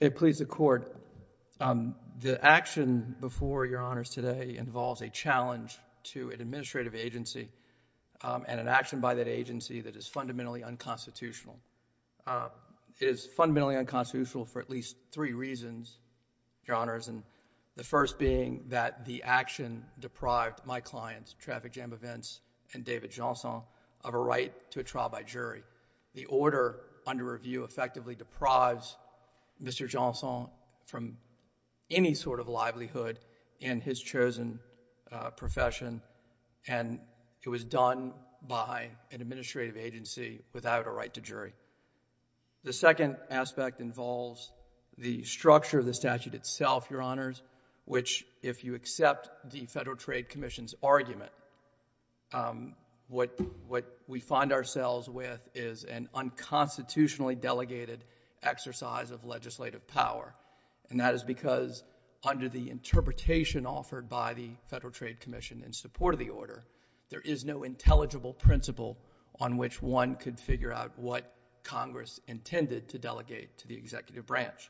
It pleads the court, the action before your honors today involves a challenge to an administrative agency and an action by that agency that is fundamentally unconstitutional. It is fundamentally unconstitutional for at least three reasons, your honors, and the first being that the right to a trial by jury. The order under review effectively deprives Mr. Johnson from any sort of livelihood in his chosen profession and it was done by an administrative agency without a right to jury. The second aspect involves the structure of the statute itself, your honors, which if you accept the Federal Trade Commission's argument, what we find ourselves with is an unconstitutionally delegated exercise of legislative power and that is because under the interpretation offered by the Federal Trade Commission in support of the order, there is no intelligible principle on which one could figure out what Congress intended to delegate to the executive branch.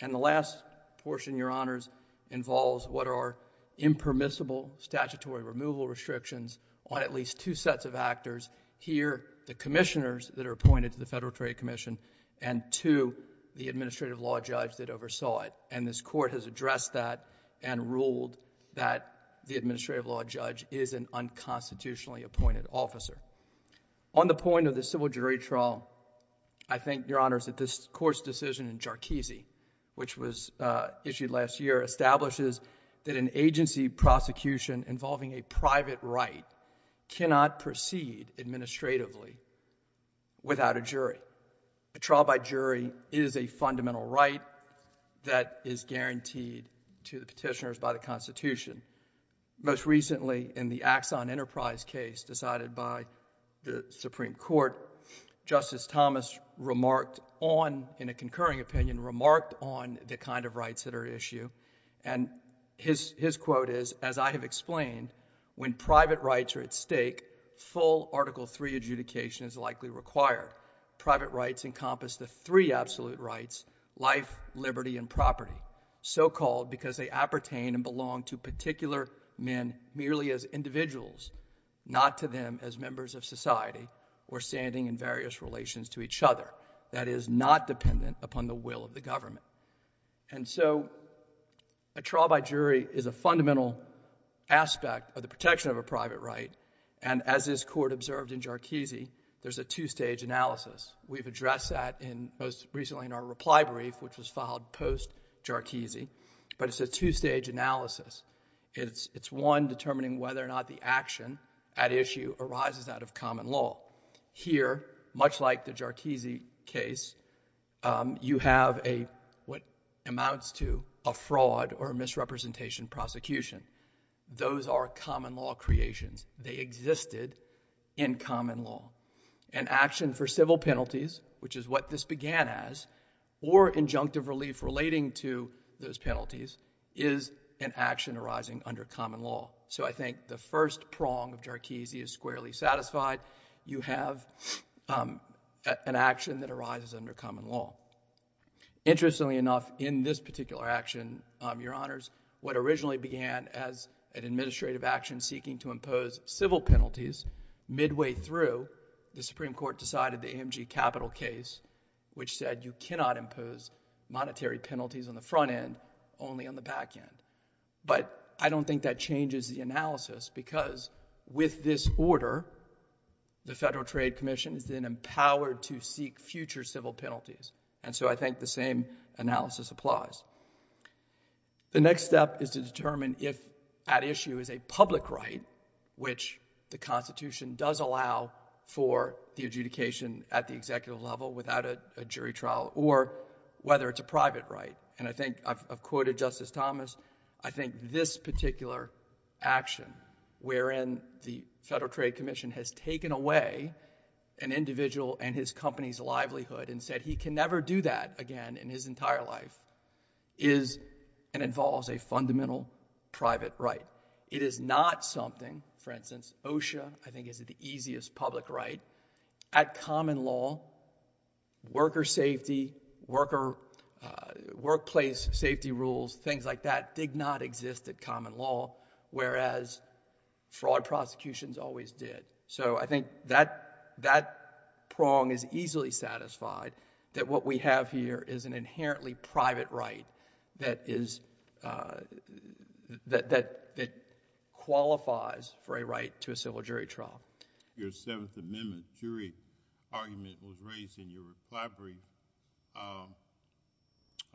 The last portion, your honors, involves what are impermissible statutory removal restrictions on at least two sets of actors, here the commissioners that are appointed to the Federal Trade Commission and two, the administrative law judge that oversaw it and this court has addressed that and ruled that the administrative law judge is an unconstitutionally appointed officer. On the point of the civil jury trial, I think, your honors, that this court's decision in Jarchese, which was issued last year, establishes that an agency prosecution involving a private right cannot proceed administratively without a jury. A trial by jury is a fundamental right that is guaranteed to the petitioners by the jury. In the Axon Enterprise case decided by the Supreme Court, Justice Thomas remarked on, in a concurring opinion, remarked on the kind of rights that are at issue and his quote is, as I have explained, when private rights are at stake, full Article III adjudication is likely required. Private rights encompass the three absolute rights, life, liberty, and property, so-called because they appertain and belong to particular men merely as individuals, not to them as members of society or standing in various relations to each other. That is not dependent upon the will of the government. And so a trial by jury is a fundamental aspect of the protection of a private right and as this court observed in Jarchese, there's a two-stage analysis. We've addressed that most recently in our reply brief, which was filed post-Jarchese, but it's a two-stage analysis. It's one determining whether or not the action at issue arises out of common law. Here, much like the Jarchese case, you have what amounts to a fraud or misrepresentation prosecution. Those are common law creations. They existed in common law. An action for civil penalties, which is what this began as, or injunctive relief relating to those penalties, is an action arising under common law. So I think the first prong of Jarchese is squarely satisfied. You have an action that arises under common law. Interestingly enough, in this particular action, Your Honors, what originally began as an administrative action seeking to impose civil penalties, midway through, the Supreme Court ruled that it was an administrative action seeking to impose civil penalties. But I don't think that changes the analysis because with this order, the Federal Trade Commission has been empowered to seek future civil penalties and so I think the same analysis applies. The next step is to determine if at issue is a public right, which the Constitution does allow for the adjudication at the executive level without a jury trial, or whether it's a private right. And I think, I've quoted Justice Thomas, I think this particular action, wherein the Federal Trade Commission has taken away an individual and his company's livelihood and said he can never do that again in his entire life, is and involves a fundamental private right. It is not something, for instance, OSHA, I think is the easiest public right, at common law, worker safety, workplace safety rules, things like that did not exist at common law, whereas fraud prosecutions always did. So I think that prong is easily satisfied that what we have here is an inherently private right that qualifies for a right to a civil So on the subject of the Fifth Amendment, jury argument was raised in your reply brief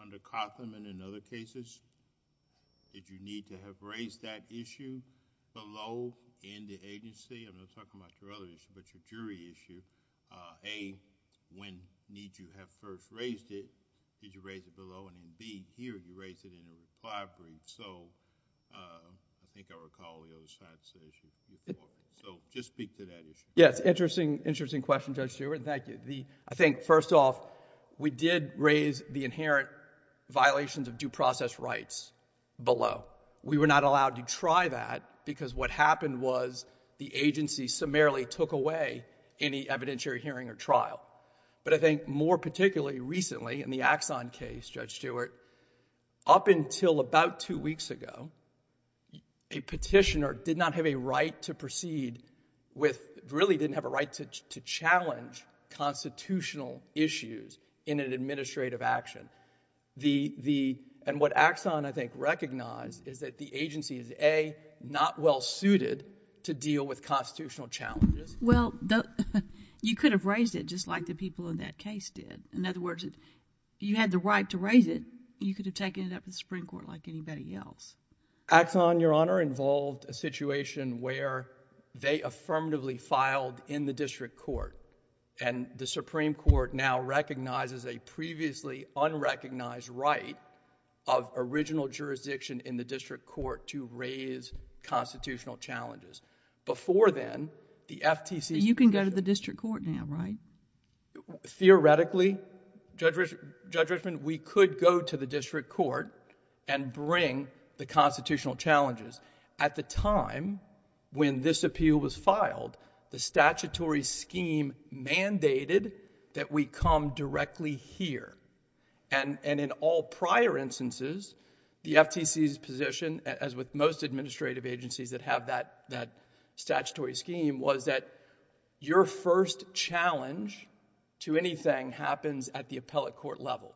under Cotham and in other cases. Did you need to have raised that issue below in the agency? I'm not talking about your other issue, but your jury issue. A, when need you have first raised it, did you raise it below and then B, here you raised it in a reply brief. So I think I recall the other side's issue. So just speak to that issue. Yes, interesting question, Judge Stewart. Thank you. I think, first off, we did raise the inherent violations of due process rights below. We were not allowed to try that because what happened was the agency summarily took away any evidentiary hearing or trial. But I think more particularly recently in the Axon case, Judge Stewart, up until about two a petitioner did not have a right to proceed with, really didn't have a right to challenge constitutional issues in an administrative action. And what Axon, I think, recognized is that the agency is A, not well-suited to deal with constitutional challenges. Well, you could have raised it just like the people in that case did. In other words, if you had the right to raise it, you could have taken it up with the Supreme Court like anybody else. Axon, Your Honor, involved a situation where they affirmatively filed in the district court and the Supreme Court now recognizes a previously unrecognized right of original jurisdiction in the district court to raise constitutional challenges. Before then, the FTC's position... You can go to the district court now, right? Theoretically, Judge Richman, we could go to the district court and bring the constitutional challenges. At the time when this appeal was filed, the statutory scheme mandated that we come directly here. And in all prior instances, the FTC's position as with most to anything happens at the appellate court level.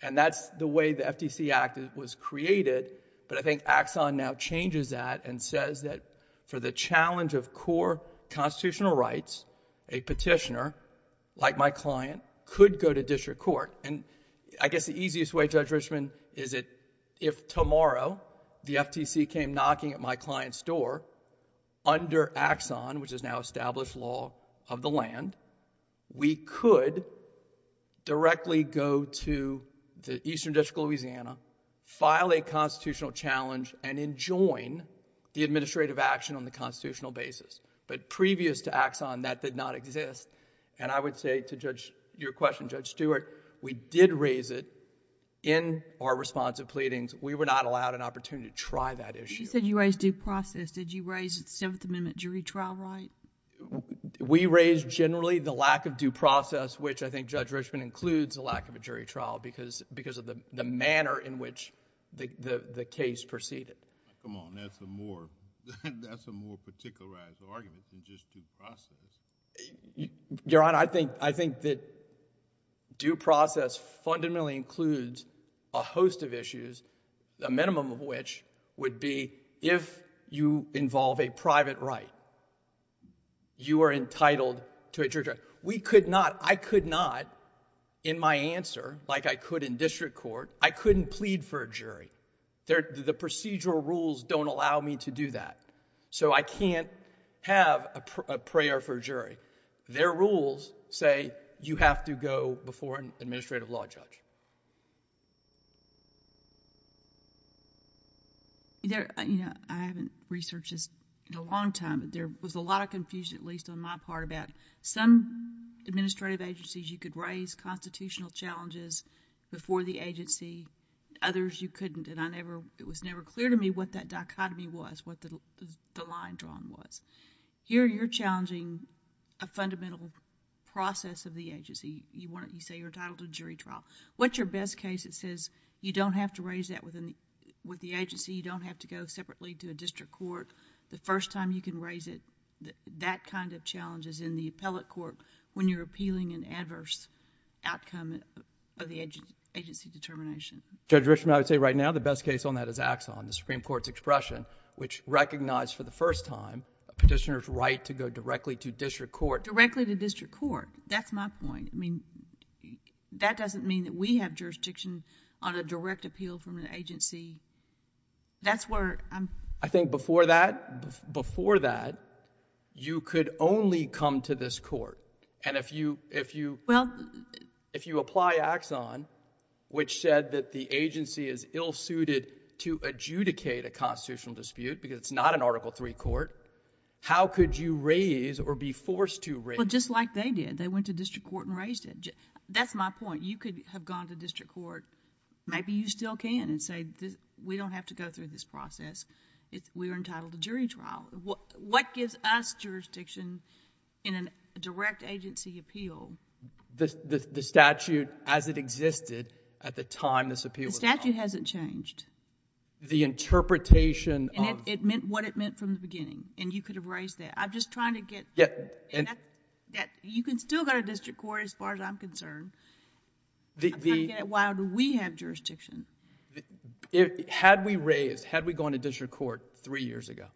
And that's the way the FTC Act was created, but I think Axon now changes that and says that for the challenge of core constitutional rights, a petitioner, like my client, could go to district court. And I guess the easiest way, Judge Richman, is that if tomorrow the FTC came knocking at my client's door, under Axon, which is now established law of the land, we could directly go to the eastern district of Louisiana, file a constitutional challenge, and enjoin the administrative action on the constitutional basis. But previous to Axon, that did not exist. And I would say to your question, Judge Stewart, we did raise it in our responsive pleadings. We were not allowed an opportunity to try that issue. If you said you raised due process, did you raise Seventh Amendment jury trial right? We raised generally the lack of due process, which I think Judge Richman includes the lack of a jury trial because of the manner in which the case proceeded. Come on, that's a more particularized argument than just due process. Your Honor, I think that due process fundamentally includes a host of issues, a minimum of which would be if you involve a private right, you are entitled to a jury trial. We could not, I could not, in my answer, like I could in district court, I couldn't plead for a jury. The procedural rules don't allow me to do that. So I can't have a prayer for a jury. Their rules say you have to go before an administrative law judge. I haven't researched this in a long time, but there was a lot of confusion, at least on my part, about some administrative agencies you could raise constitutional challenges before the agency, others you couldn't. It was never clear to me what that dichotomy was, what the line drawn was. Here you're challenging a fundamental process of the agency. You say you're entitled to a jury trial. What's your best case that says you don't have to raise that with the agency, you don't have to go separately to a district court. The first time you can raise it, that kind of challenge is in the appellate court when you're appealing an adverse outcome of the agency determination. Judge Richman, I would say right now the best case on that is Axon, the Supreme Court's expression which recognized for the first time a petitioner's right to go directly to district court. Directly to district court. That's my point. That doesn't mean that we have jurisdiction on a direct appeal from an agency. That's where I'm... I think before that, you could only come to this court. If you apply Axon, which said that the agency is ill-suited to adjudicate a constitutional dispute because it's not an Article III court, how could you raise or be forced to raise... Well, just like they did. They went to district court and raised it. That's my point. You could have gone to district court. Maybe you still can and say, we don't have to go through this process. We're entitled to jury trial. What gives us jurisdiction in a direct agency appeal? The statute as it existed at the time this appeal was filed. The statute hasn't changed. The interpretation of... It meant what it meant from the beginning. You could have raised that. I'm just trying to get... You can still go to district court as far as I'm concerned. Why do we have jurisdiction? Had we raised... Had we gone to district court three years ago,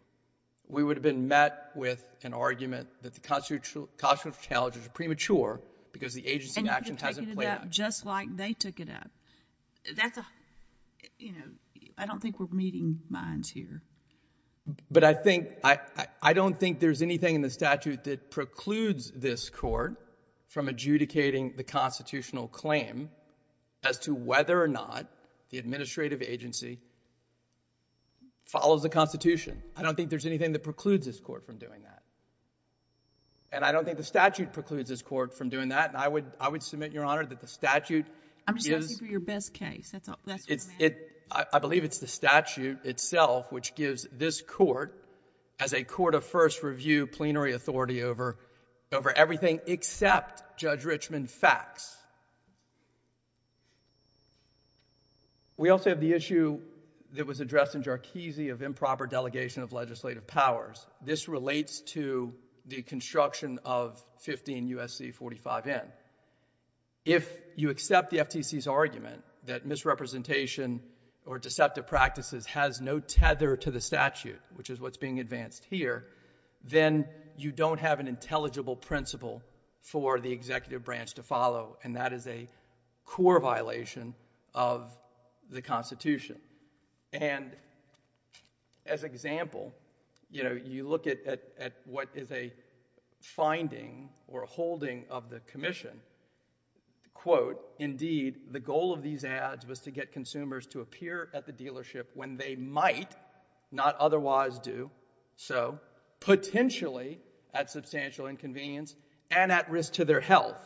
we would have been met with an argument that the constitutional challenges are premature because the agency in action hasn't played out. Just like they took it up. That's a... I don't think we're meeting minds here. But I think... I don't think there's anything in the statute that precludes this court from adjudicating the constitutional claim as to whether or not the administrative agency follows the Constitution. I don't think there's anything that precludes this court from doing that. And I don't think the statute precludes this court from doing that. I would submit, Your Honor, the statute... I'm just asking for your best case. That's what I'm asking. I believe it's the statute itself which gives this court, as a court of first review, plenary authority over everything except Judge Richman facts. We also have the issue that was addressed in Jarkizi of improper delegation of legislative powers. This relates to the construction of 15 U.S.C. 45N. If you accept the FTC's argument that misrepresentation or deceptive practices has no tether to the statute, which is what's being advanced here, then you don't have an intelligible principle for the executive branch to follow. And that is a core violation of the Constitution. And as an example, you know, you look at what is a finding or a holding of the Commission... Indeed, the goal of these ads was to get consumers to appear at the dealership when they might not otherwise do so, potentially at substantial inconvenience and at risk to their health.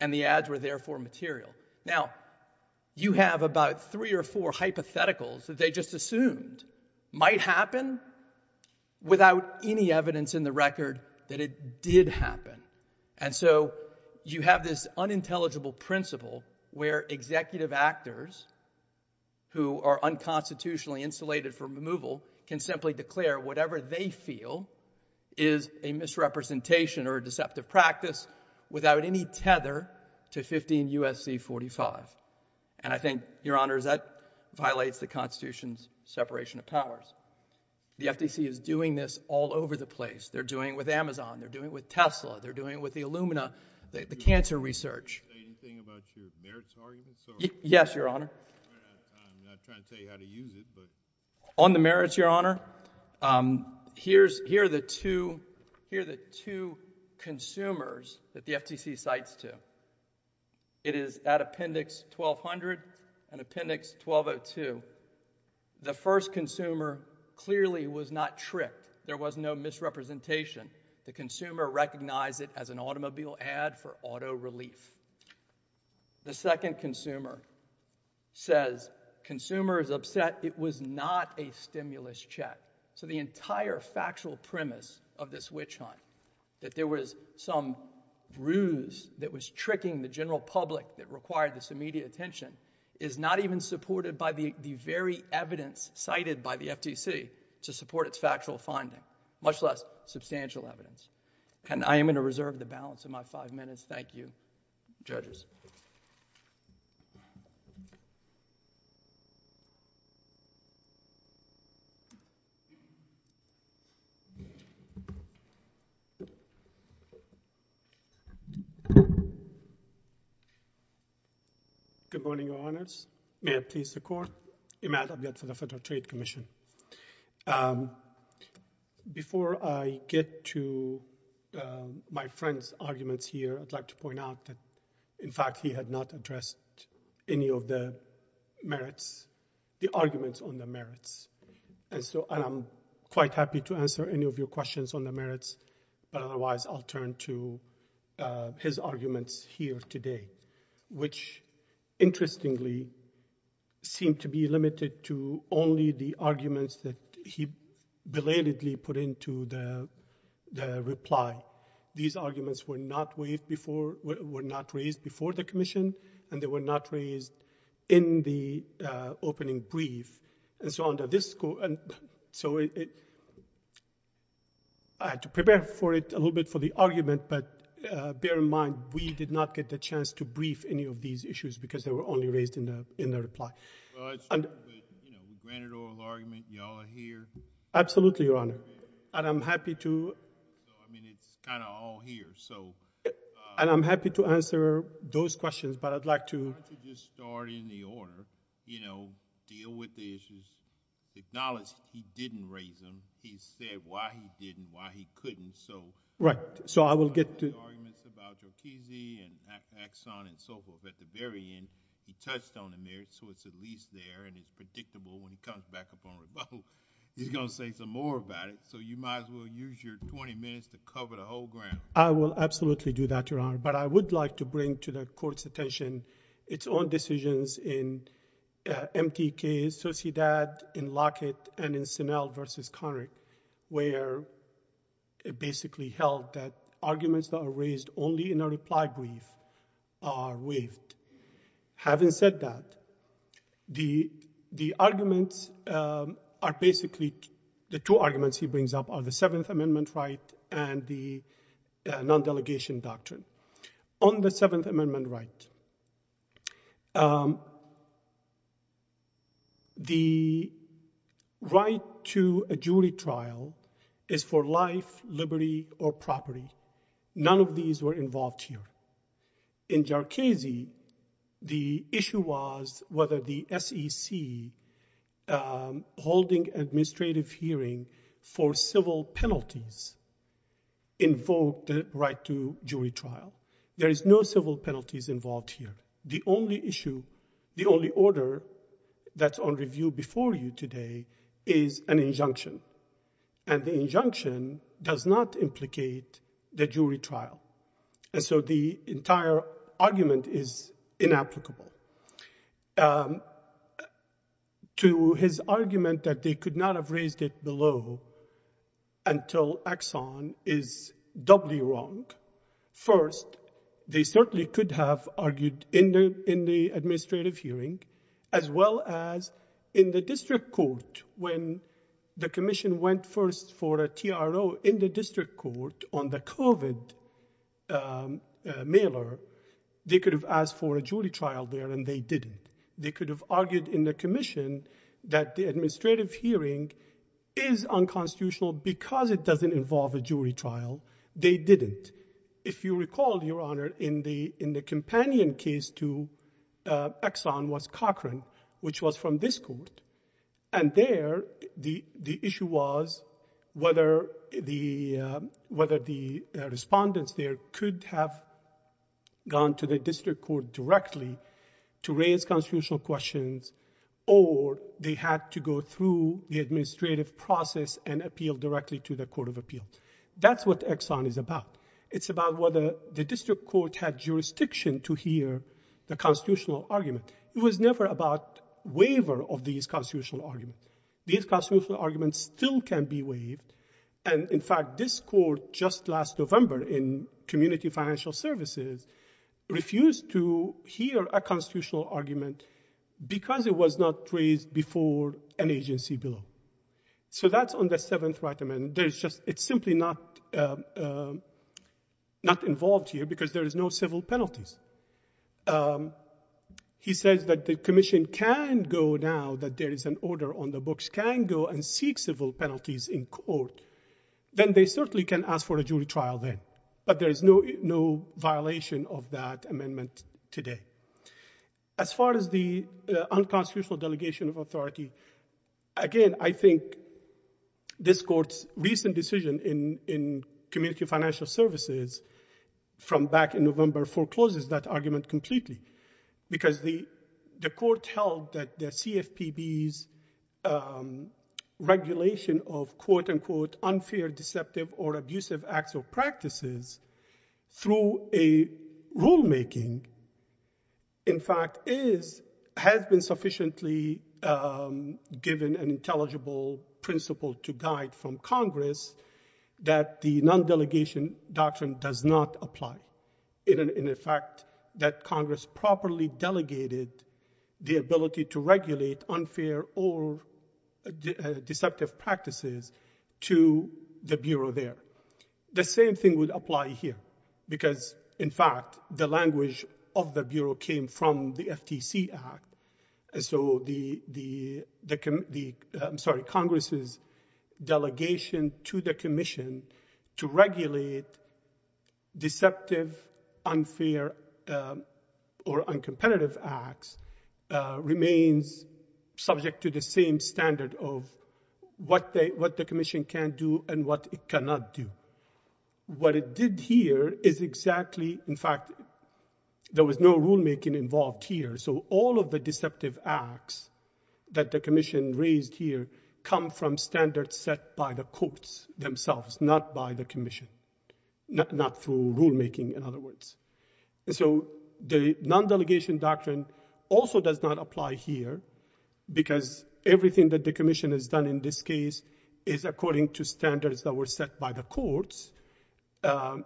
And the ads were therefore material. Now, you have about three or four hypotheticals that they just assumed might happen without any evidence in the record that it did happen. And so you have this unintelligible principle where executive actors who are unconstitutionally insulated for removal can simply declare whatever they feel is a misrepresentation or a deceptive practice without any tether to 15 U.S.C. 45. And I think, Your Honors, that violates the Constitution's separation of powers. The FTC is doing this all over the place. They're doing it with Amazon. They're doing it with Tesla. They're doing it with the Illumina, the cancer research. Anything about your merits arguments? Yes, Your Honor. I'm not trying to tell you how to use it, but... On the merits, Your Honor, here are the two consumers that the FTC cites to. It is at risk to their health. The first consumer clearly was not tricked. There was no misrepresentation. The consumer recognized it as an automobile ad for auto relief. The second consumer says, consumer is upset it was not a stimulus check. So the entire factual premise of this witch hunt, that there was some bruise that was tricking the general public that required this immediate attention, is not even supported by the very evidence cited by the FTC to support its factual finding, much less substantial evidence. And I am going to reserve the balance of my five minutes. Thank you, judges. Good morning, Your Honors. May I please the Court? Imad Abed for the Federal Trade Commission. Before I get to my friend's arguments here, I'd like to point out that, in fact, he had not addressed any of the merits, the arguments on the merits. And I'm quite happy to answer any of your questions on the merits, but otherwise I'll turn to his arguments here today, which, interestingly, seem to be limited to only the arguments that he belatedly put into the reply. These arguments were not waived before were not raised before the Commission, and they were not raised in the opening brief, and so on. So I had to prepare for it a little bit for the argument, but bear in mind, we did not get the chance to brief any of these issues because they were only raised in the reply. Well, it's true, but, you know, we granted oral argument, and you all are here. Absolutely, Your Honor. And I'm happy to answer those questions, but I'd like to... Why don't you just start in the order, you know, deal with the issues. Acknowledge he didn't raise them. He said why he didn't, why he couldn't, so... Right, so I will get to... ...arguments about Jokisi and Axon and so forth. At the very end, he touched on the merits, so it's at least there, and it's predictable when he comes back up on rebuttal. He's going to say some more about it, so you might as well use your 20 minutes to cover the whole ground. I will absolutely do that, Your Honor, but I would like to bring to the Court's attention its own decisions in MTK, Sociedad, in Lockett, and in Sinel v. Conrick, where it basically held that arguments that are raised only in a reply brief are waived. Having said that, the arguments are basically, the two arguments he brings up are the Seventh Amendment right and the non-delegation doctrine. On the Seventh Amendment right, the right to a jury trial is for life, liberty, or property. None of these were involved here. In Jokisi, the issue was whether the SEC holding administrative hearing for civil penalties invoked the right to jury trial. There is no civil penalties involved here. The only issue, the only order that's on review before you today is an injunction, and the injunction does not implicate the jury trial. To his argument that they could not have raised it below until Exxon is doubly wrong, first, they certainly could have argued in the administrative hearing, as well as in the district court when the Commission went first for a TRO in the district court on the COVID mailer, they could have asked for a jury trial there, and they didn't. They could have argued in the Commission that the administrative hearing is unconstitutional because it doesn't involve a jury trial. They didn't. If you recall, Your Honor, in the companion case to Exxon was Cochran, which was from this court, and there the issue was whether the respondents there could have gone to the district court directly to raise constitutional questions, or they had to go through the administrative process and appeal directly to the Court of Appeals. That's what Exxon is about. It's about whether the district court had jurisdiction to hear the constitutional argument. It was never about waiver of these waivers. In fact, this court just last November in Community Financial Services refused to hear a constitutional argument because it was not raised before an agency bill. That's on the Seventh Right Amendment. It's simply not involved here because there is no civil penalties. He says that the Commission can go now, that there is an order on the books, that it can go and seek civil penalties in court. Then they certainly can ask for a jury trial then, but there is no violation of that amendment today. As far as the unconstitutional delegation of authority, again, I think this court's recent decision in Community Financial Services from back in November forecloses that argument completely because the court held that the CFPB's regulation of, quote-unquote, unfair, deceptive, or abusive acts or practices through a rulemaking, in fact, has been sufficiently given an intelligible principle to guide from Congress that the non-delegation doctrine does not apply. In effect, that Congress properly delegated the ability to regulate unfair or deceptive practices to the Bureau there. The same thing would apply here because, in fact, the language of the Bureau came from the FTC Act. So Congress's delegation to the Commission to regulate deceptive, unfair, or uncompetitive acts remains subject to the same standard of what the Commission can do and what it cannot do. What it did here is exactly, in fact, there was no rulemaking involved here. So all of the deceptive acts that the Commission raised here come from standards set by the courts themselves, not by the Commission, not through rulemaking, in other words. So the non-delegation doctrine also does not apply here because everything that the Commission has done in this case is according to standards that were set by the courts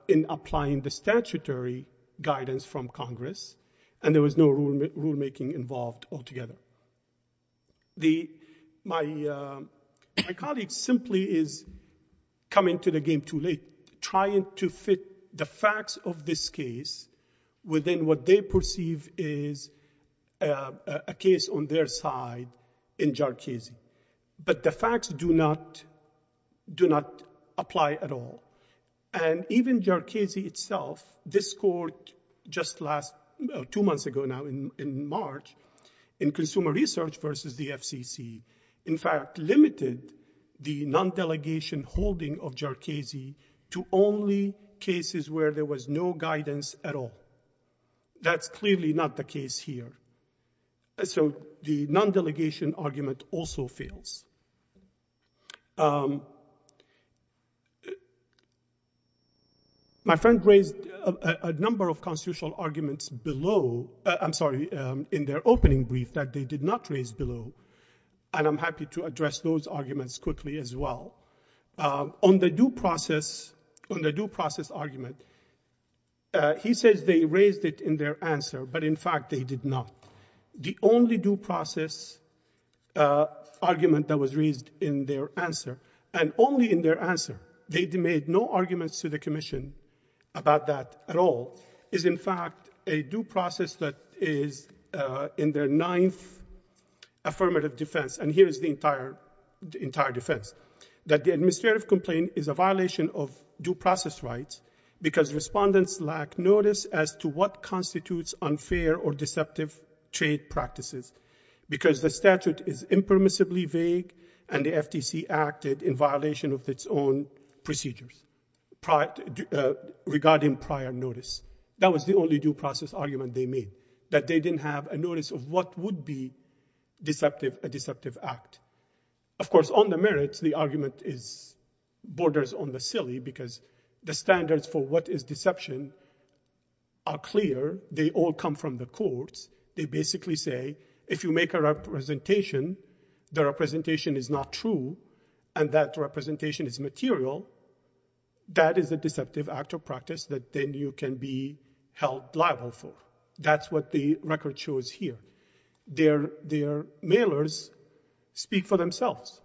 in applying the statutory guidance from Congress, and there was no rulemaking involved altogether. My colleague simply is coming to the game too late, trying to fit the facts of this case within what they perceive is a case on their side in JARCISI, but the facts do not apply at all. And even JARCISI itself, this court just last, two months ago now, in March, in Consumer Research versus the FCC, in fact, limited the non-delegation holding of JARCISI to only cases where there was no guidance at all. That's clearly not the case here. So the non-delegation argument also fails. My friend raised a number of constitutional arguments below, I'm sorry, in their opening brief that they did not raise below, and I'm happy to address those arguments quickly as well. On the due process argument, he says they raised it in their answer, but in fact they did not. The only due process argument that was raised in their answer, and only in their answer, they made no arguments to the Commission about that at all, is in fact a due process that is in their ninth affirmative defense, and here is the entire defense. That the administrative complaint is a violation of due process rights because respondents lack notice as to what constitutes unfair or deceptive trade practices because the statute is impermissibly vague and the FTC acted in violation of its own procedures regarding prior notice. That was the only due process argument they made, that they didn't have a notice of what would be a deceptive act. Of course, on the merits, the argument borders on the silly because the standards for what is deception are clear. They all come from the courts. They basically say if you make a representation, the representation is not true, and that representation is material, that is a deceptive act or practice that then you can be held liable for. That is what the record shows here. Their mailers speak for themselves.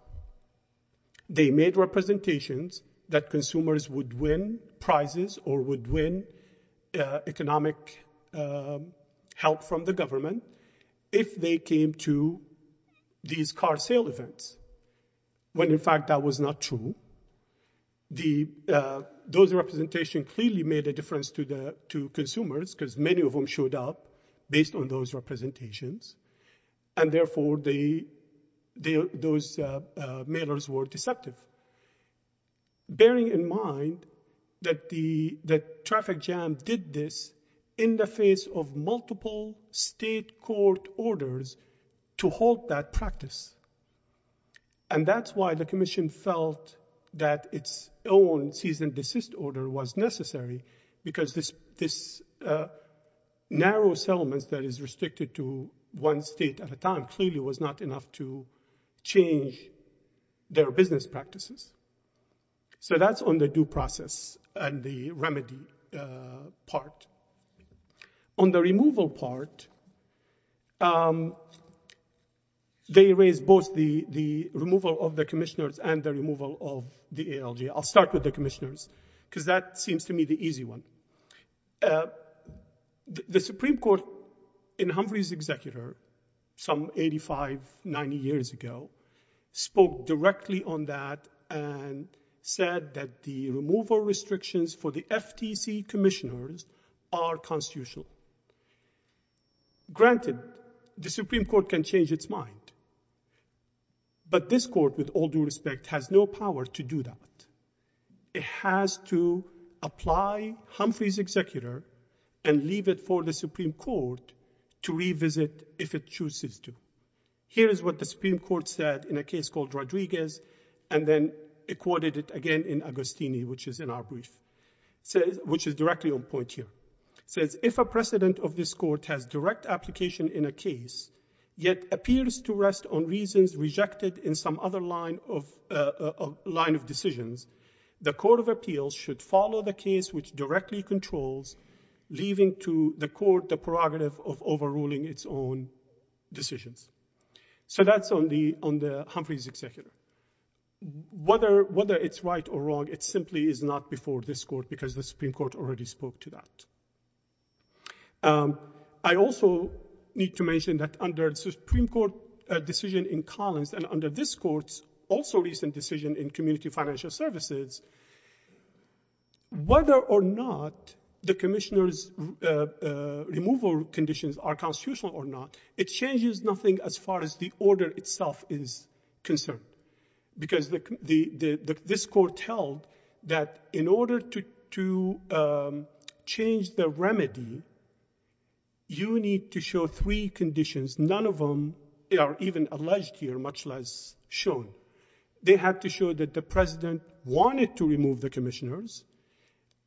They made representations that consumers would win prizes or would win economic help from the government if they came to these car sale events, when in fact that was not true. Those representations clearly made a difference to consumers because many of them showed up based on those representations, and therefore those mailers were deceptive. Bearing in mind that the traffic jam did this in the face of multiple state court orders to hold that practice. That's why the commission felt that its own cease and desist order was necessary because this narrow settlement that is restricted to one state at a time clearly was not enough to change their business practices. That's on the due process and the remedy part. On the removal part, they raised both the removal of the commissioners and the removal of the ALG. I'll start with the commissioners because that seems to me the easy one. The Supreme Court in Humphreys Executor some 85, 90 years ago spoke directly on that and said that the removal restrictions for the FTC commissioners are constitutional. Granted, the Supreme Court can change its mind, but this court with all due respect has no power to do that. It has to apply Humphreys Executor and leave it for the Supreme Court to revisit if it chooses to. Here is what the Supreme Court said in a case called Rodriguez and then it quoted it again in Agostini, which is in our brief, which is directly on point here. It says, if a precedent of this court has direct application in a case yet appears to rest on reasons rejected in some other line of decisions, the Court of Appeals should follow the case which directly controls leaving to the court the prerogative of overruling its own decisions. So that's on the Humphreys Executor. Whether it's right or wrong, it simply is not before this court because the Supreme Court already spoke to that. I also need to mention that under the Supreme Court decision in Collins and under this court's also recent decision in Community Financial Services, whether or not the commissioners' removal conditions are constitutional or not, it changes nothing as far as the order itself is concerned because this court held that in order to change the remedy, you need to show three conditions. None of them are even alleged here, much less shown. They have to show that the president wanted to remove the commissioners,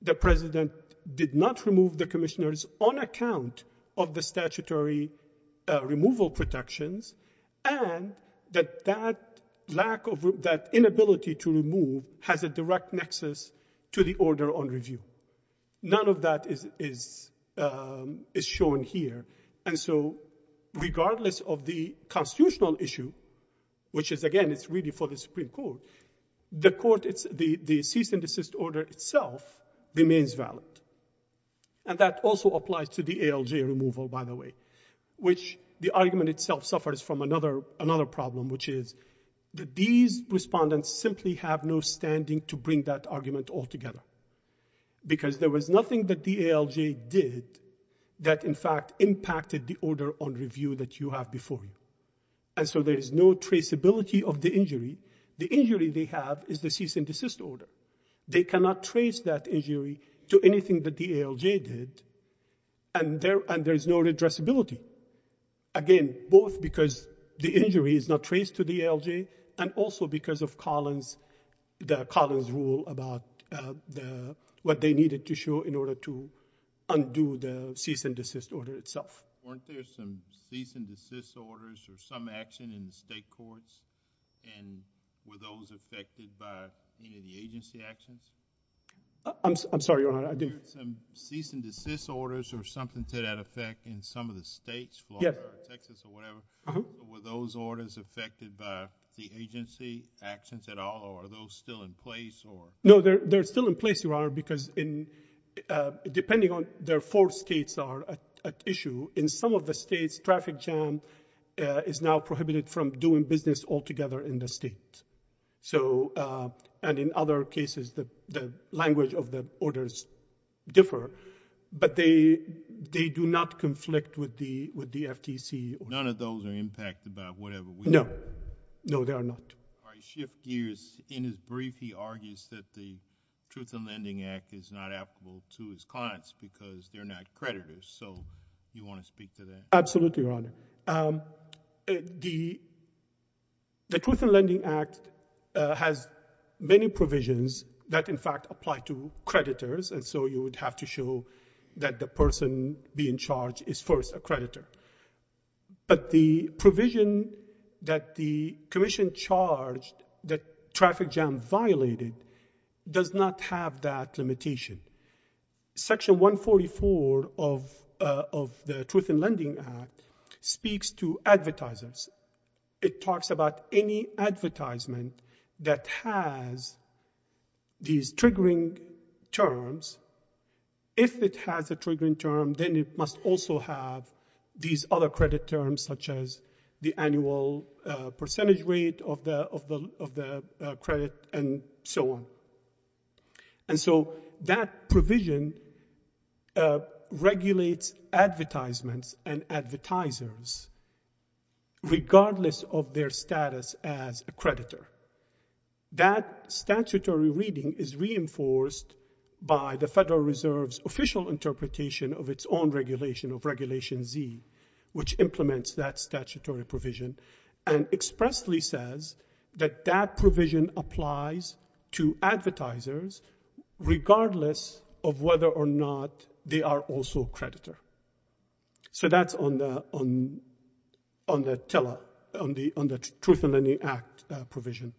the president did not remove the commissioners on account of the statutory removal protections, and that that inability to remove has a direct nexus to the order on review. None of that is shown here. And so regardless of the constitutional issue, which is again, it's really for the Supreme Court to decide, the cease and desist order itself remains valid. And that also applies to the ALJ removal, by the way, which the argument itself suffers from another problem, which is that these respondents simply have no standing to bring that argument altogether because there was nothing that the ALJ did that in fact impacted the order on review that you have before you. And so there is no traceability of the injury. The injury they have is the cease and desist order. They cannot trace that injury to anything that the ALJ did, and there is no addressability. Again, both because the injury is not traced to the ALJ and also because of Collins, the Collins rule about what they needed to show in order to undo the cease and desist order itself. Weren't there some cease and desist orders or some action in the state courts? And were those affected by any of the agency actions? I'm sorry, Your Honor, I didn't... Weren't there some cease and desist orders or something to that effect in some of the states, Florida or Texas or whatever? Were those orders affected by the agency actions at all, or are those still in place, or... No, they're still in place, Your Honor, because depending on their four states that are at issue, in some of the states, traffic jam is now prohibited from doing business altogether in the state. So, and in other cases, the language of the orders differ, but they do not conflict with the FTC or... None of those are impacted by whatever we... No. No, they are not. All right, shift gears. In his brief, he argues that the Truth in Lending Act is not applicable to his clients because they're not creditors. So, you want to speak to that? Absolutely, Your Honor. The Truth in Lending Act has many provisions that, in fact, apply to creditors, and so you would have to show that the person being charged is first a creditor. But the provision that the commission charged that traffic jam violated does not have that limitation. Section 144 of the Truth in Lending Act speaks to advertisers. It talks about any advertisement that has these triggering terms. If it has a triggering term, then it must also have these other credit terms, such as the annual percentage rate of the credit, and so on. And so, that provision regulates advertisements and advertisers, regardless of their status as a creditor. That statutory reading is reinforced by the Federal Reserve's official interpretation of its own regulation, of Regulation Z, which implements that statutory provision, and expressly says that that provision applies to advertisers, regardless of whether or not they are also a creditor. So, that's on the Truth in Lending Act provision.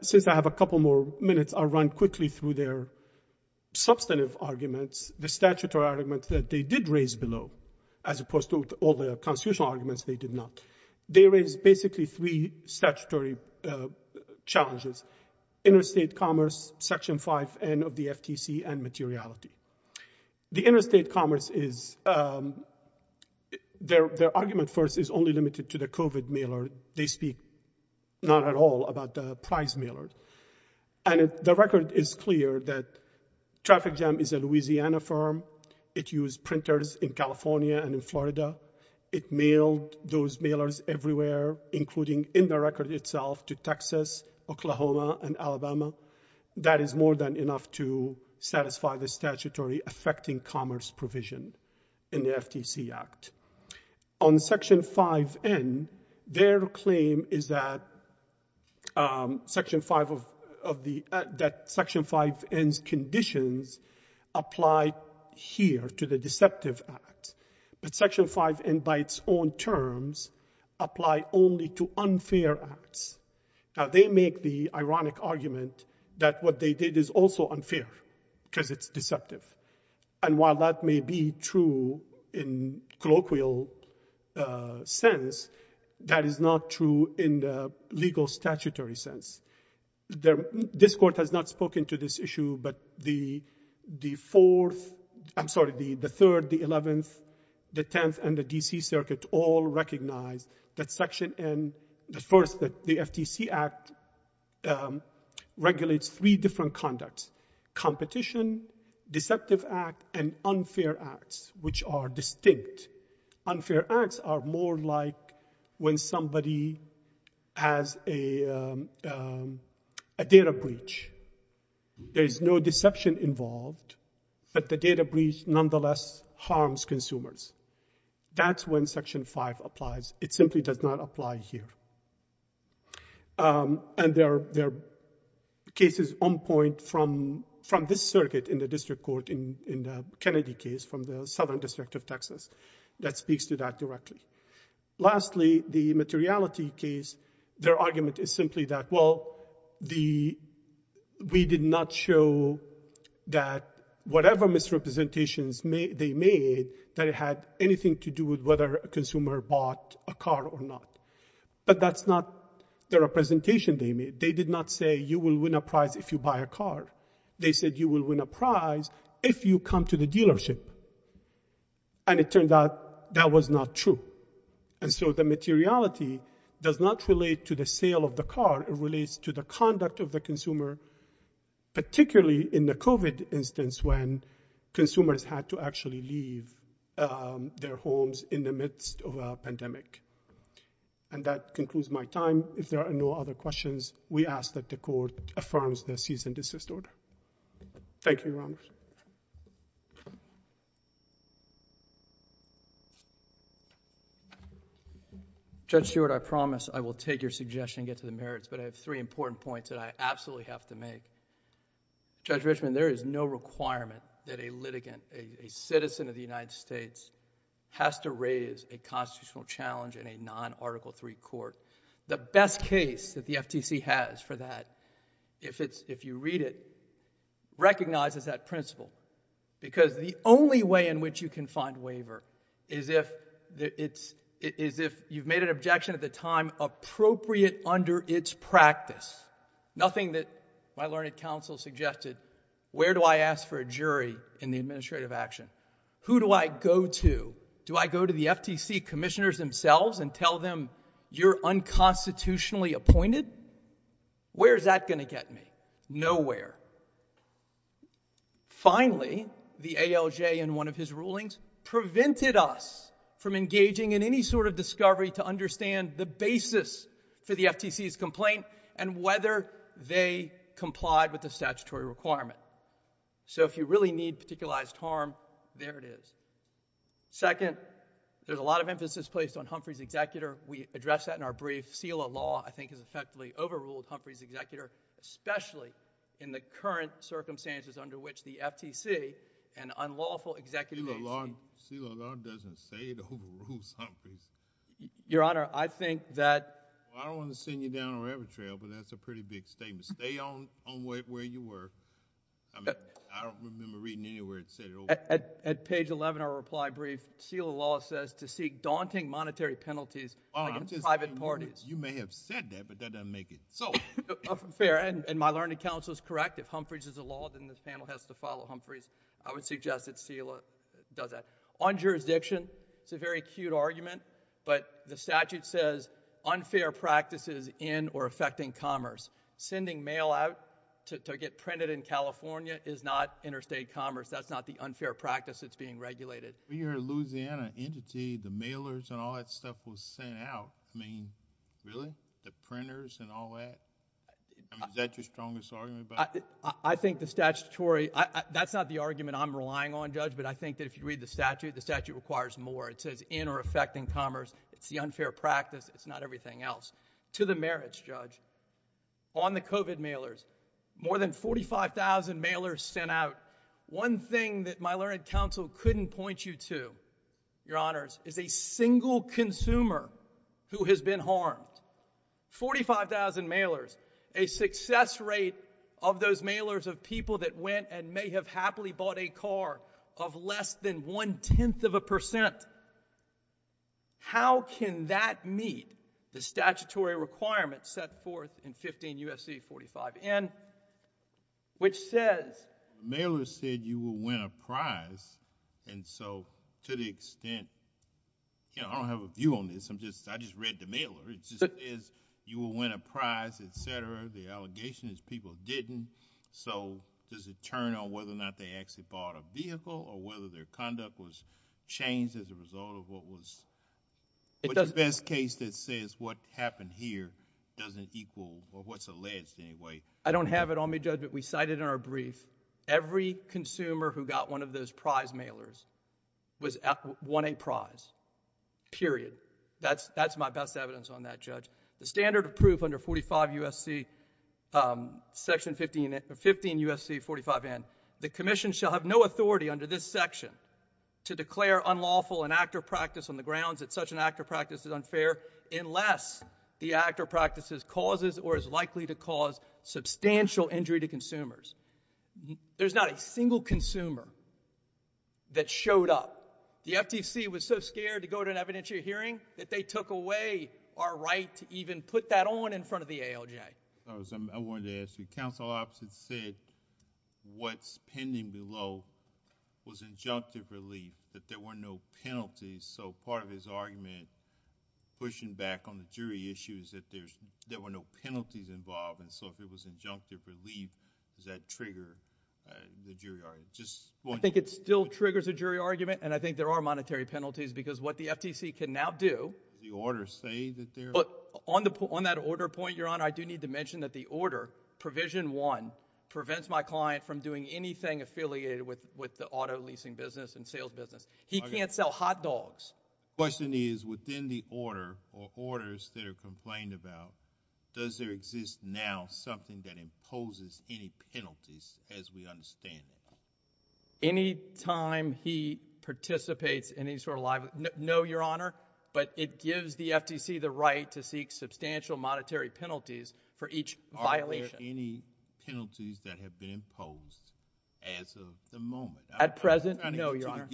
Since I have a couple more minutes, I'll run quickly through their substantive arguments, the statutory arguments that they did raise below, as opposed to all the constitutional arguments they did not. They raised basically three statutory challenges, interstate commerce, Section 5N of the FTC, and materiality. The interstate commerce is, their argument first is only limited to the COVID mailer. They speak not at all about the prize mailer. And the record is clear that Traffic Jam is a Louisiana firm. It used printers in California and in Florida. It mailed those mailers everywhere, including in the record itself to Texas, Oklahoma, and Alabama. That is more than enough to satisfy the statutory affecting commerce provision in the FTC Act. On Section 5N, their claim is that Section 5 of the, that Section 5N's conditions apply here to the deceptive act. But Section 5N by its own terms apply only to unfair acts. Now, they make the ironic argument that what they did is also unfair, because it's deceptive. And while that may be true in colloquial sense, that is not true in the legal statutory sense. This Court has not spoken to this issue, but the Fourth, I'm sorry, the Third, the Eleventh, the Tenth, and the D.C. Circuit all recognize that Section N, the first, the FTC Act, regulates three different conducts. Competition, deceptive act, and unfair acts, which are distinct. Unfair acts are more like when somebody has a data breach. There is no deception involved, but the data breach nonetheless harms consumers. That's when Section 5 applies. It simply does not apply here. And there are cases on point from this circuit in the District Court in the Kennedy case from the Southern District of Texas that speaks to that directly. Lastly, the materiality case, their argument is simply that, well, we did not show that whatever misrepresentations they made, that it had anything to do with whether a consumer bought a car or not. But that's not the representation they made. They did not say, you will win a prize if you buy a car. They said, you will win a prize if you come to the dealership. And it turned out that was not true. And so the materiality does not relate to the sale of the car. It relates to the conduct of the consumer, particularly in the COVID instance when consumers had to actually leave their car. And so, in these situations, we ask that the court affirms the cease and desist order. Thank you, Your Honors. Judge Stewart, I promise I will take your suggestion and get to the merits, but I have three important points that I absolutely have to make. Judge Richman, there is no requirement that a litigant, a citizen of the United States, has to raise a constitutional challenge in a non-Article III court. The best case that the FTC has for that, if you read it, recognizes that principle. Because the only way in which you can find waiver is if you've made an objection at the time appropriate under its practice. Nothing that my learned counsel suggested. Where do I ask for a jury in the administrative action? Who do I go to? Do I go to the FTC commissioners themselves and tell them, you're unconstitutionally appointed? Where is that going to get me? Nowhere. Finally, the ALJ in one of his rulings prevented us from engaging in any sort of discovery to understand the basis for the FTC's complaint and whether they complied with the statutory requirement. So, if you really need particularized harm, there it is. Second, there's a lot of emphasis placed on Humphrey's executor. We addressed that in our brief. SELA law, I think, has effectively overruled Humphrey's executor, especially in the current circumstances under which the FTC, an unlawful executive agency— SELA law doesn't say it overrules Humphrey's. Your Honor, I think that— Well, I don't want to send you down a rabbit trail, but that's a pretty big statement. Stay on where you were. I don't remember reading anywhere it said it overruled. At page 11 of our reply brief, SELA law says to seek daunting monetary penalties against private parties. You may have said that, but that doesn't make it. Fair, and my learned counsel is correct. If Humphrey's is a law, then this panel has to follow Humphrey's. I would suggest that SELA does that. On jurisdiction, it's a very acute argument, but the statute says, unfair practices in or affecting commerce. Sending mail out to get printed in California is not interstate commerce. That's not the unfair practice that's being regulated. When you heard Louisiana entity, the mailers and all that stuff was sent out, I mean, really? The printers and all that? I mean, is that your strongest argument about it? I think the statutory... that's not the argument I'm relying on, Judge, but I think that if you read the statute, the statute requires more. It says in or affecting commerce. It's the unfair practice. It's not everything else. To the merits, Judge, on the COVID mailers, more than 45,000 mailers sent out. One thing that my learned counsel couldn't point you to, your honors, is a single consumer who has been harmed. 45,000 mailers, a success rate of those mailers of people that went and may have happily bought a car of less than one-tenth of a percent. How can that meet the statutory requirements set forth in 15 U.S.C. 45N, which says... Mailers said you will win a prize, and so to the extent... I don't have a view on this. I just read the mailer. It just says you will win a prize, et cetera. The allegation is people didn't, so does it turn on whether or not they actually bought a vehicle or whether their conduct was changed as a result of what was... What's the best case that says what happened here doesn't equal or what's alleged anyway? I don't have it on me, Judge, but we cited in our brief, every consumer who got one of those prize mailers won a prize, period. That's my best evidence on that, Judge. The standard of proof under 45 U.S.C., Section 15 U.S.C. 45N, the Commission shall have no authority under this section to declare unlawful an act or practice on the grounds that such an act or practice is unfair unless the act or practice causes or is likely to cause substantial injury to consumers. There's not a single consumer that showed up. The FTC was so scared to go to an evidentiary hearing that they took away our right to even put that on in front of the ALJ. I wanted to ask you, counsel opposite said what's pending below was injunctive relief, that there were no penalties, so part of his argument pushing back on the jury issue is that there were no penalties involved, and so if it was injunctive relief, does that trigger the jury argument? I think it still triggers a jury argument, and I think there are monetary penalties because what the FTC can now do... Does the order say that there are... On that order point, Your Honor, I do need to mention that the order, Provision 1, prevents my client from doing anything affiliated with the auto leasing business and sales business. He can't sell hot dogs. Question is within the order or orders that are complained about, does there exist now something that imposes any penalties as we understand it? Any time he participates in any sort of... No, Your Honor, but it gives the FTC the right to seek substantial monetary penalties for each violation. Are there any penalties that have been imposed as of the moment? At present, no, Your Honor.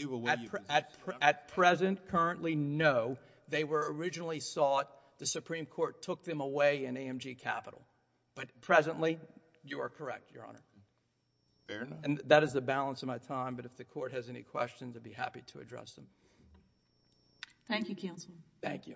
At present, currently, no. They were originally sought, the Supreme Court took them away in AMG Capital, but presently, you are correct, Your Honor. Fair enough. And that is the balance of my time, but if the court has any questions, I'd be happy to address them. Thank you, Counselor. Thank you.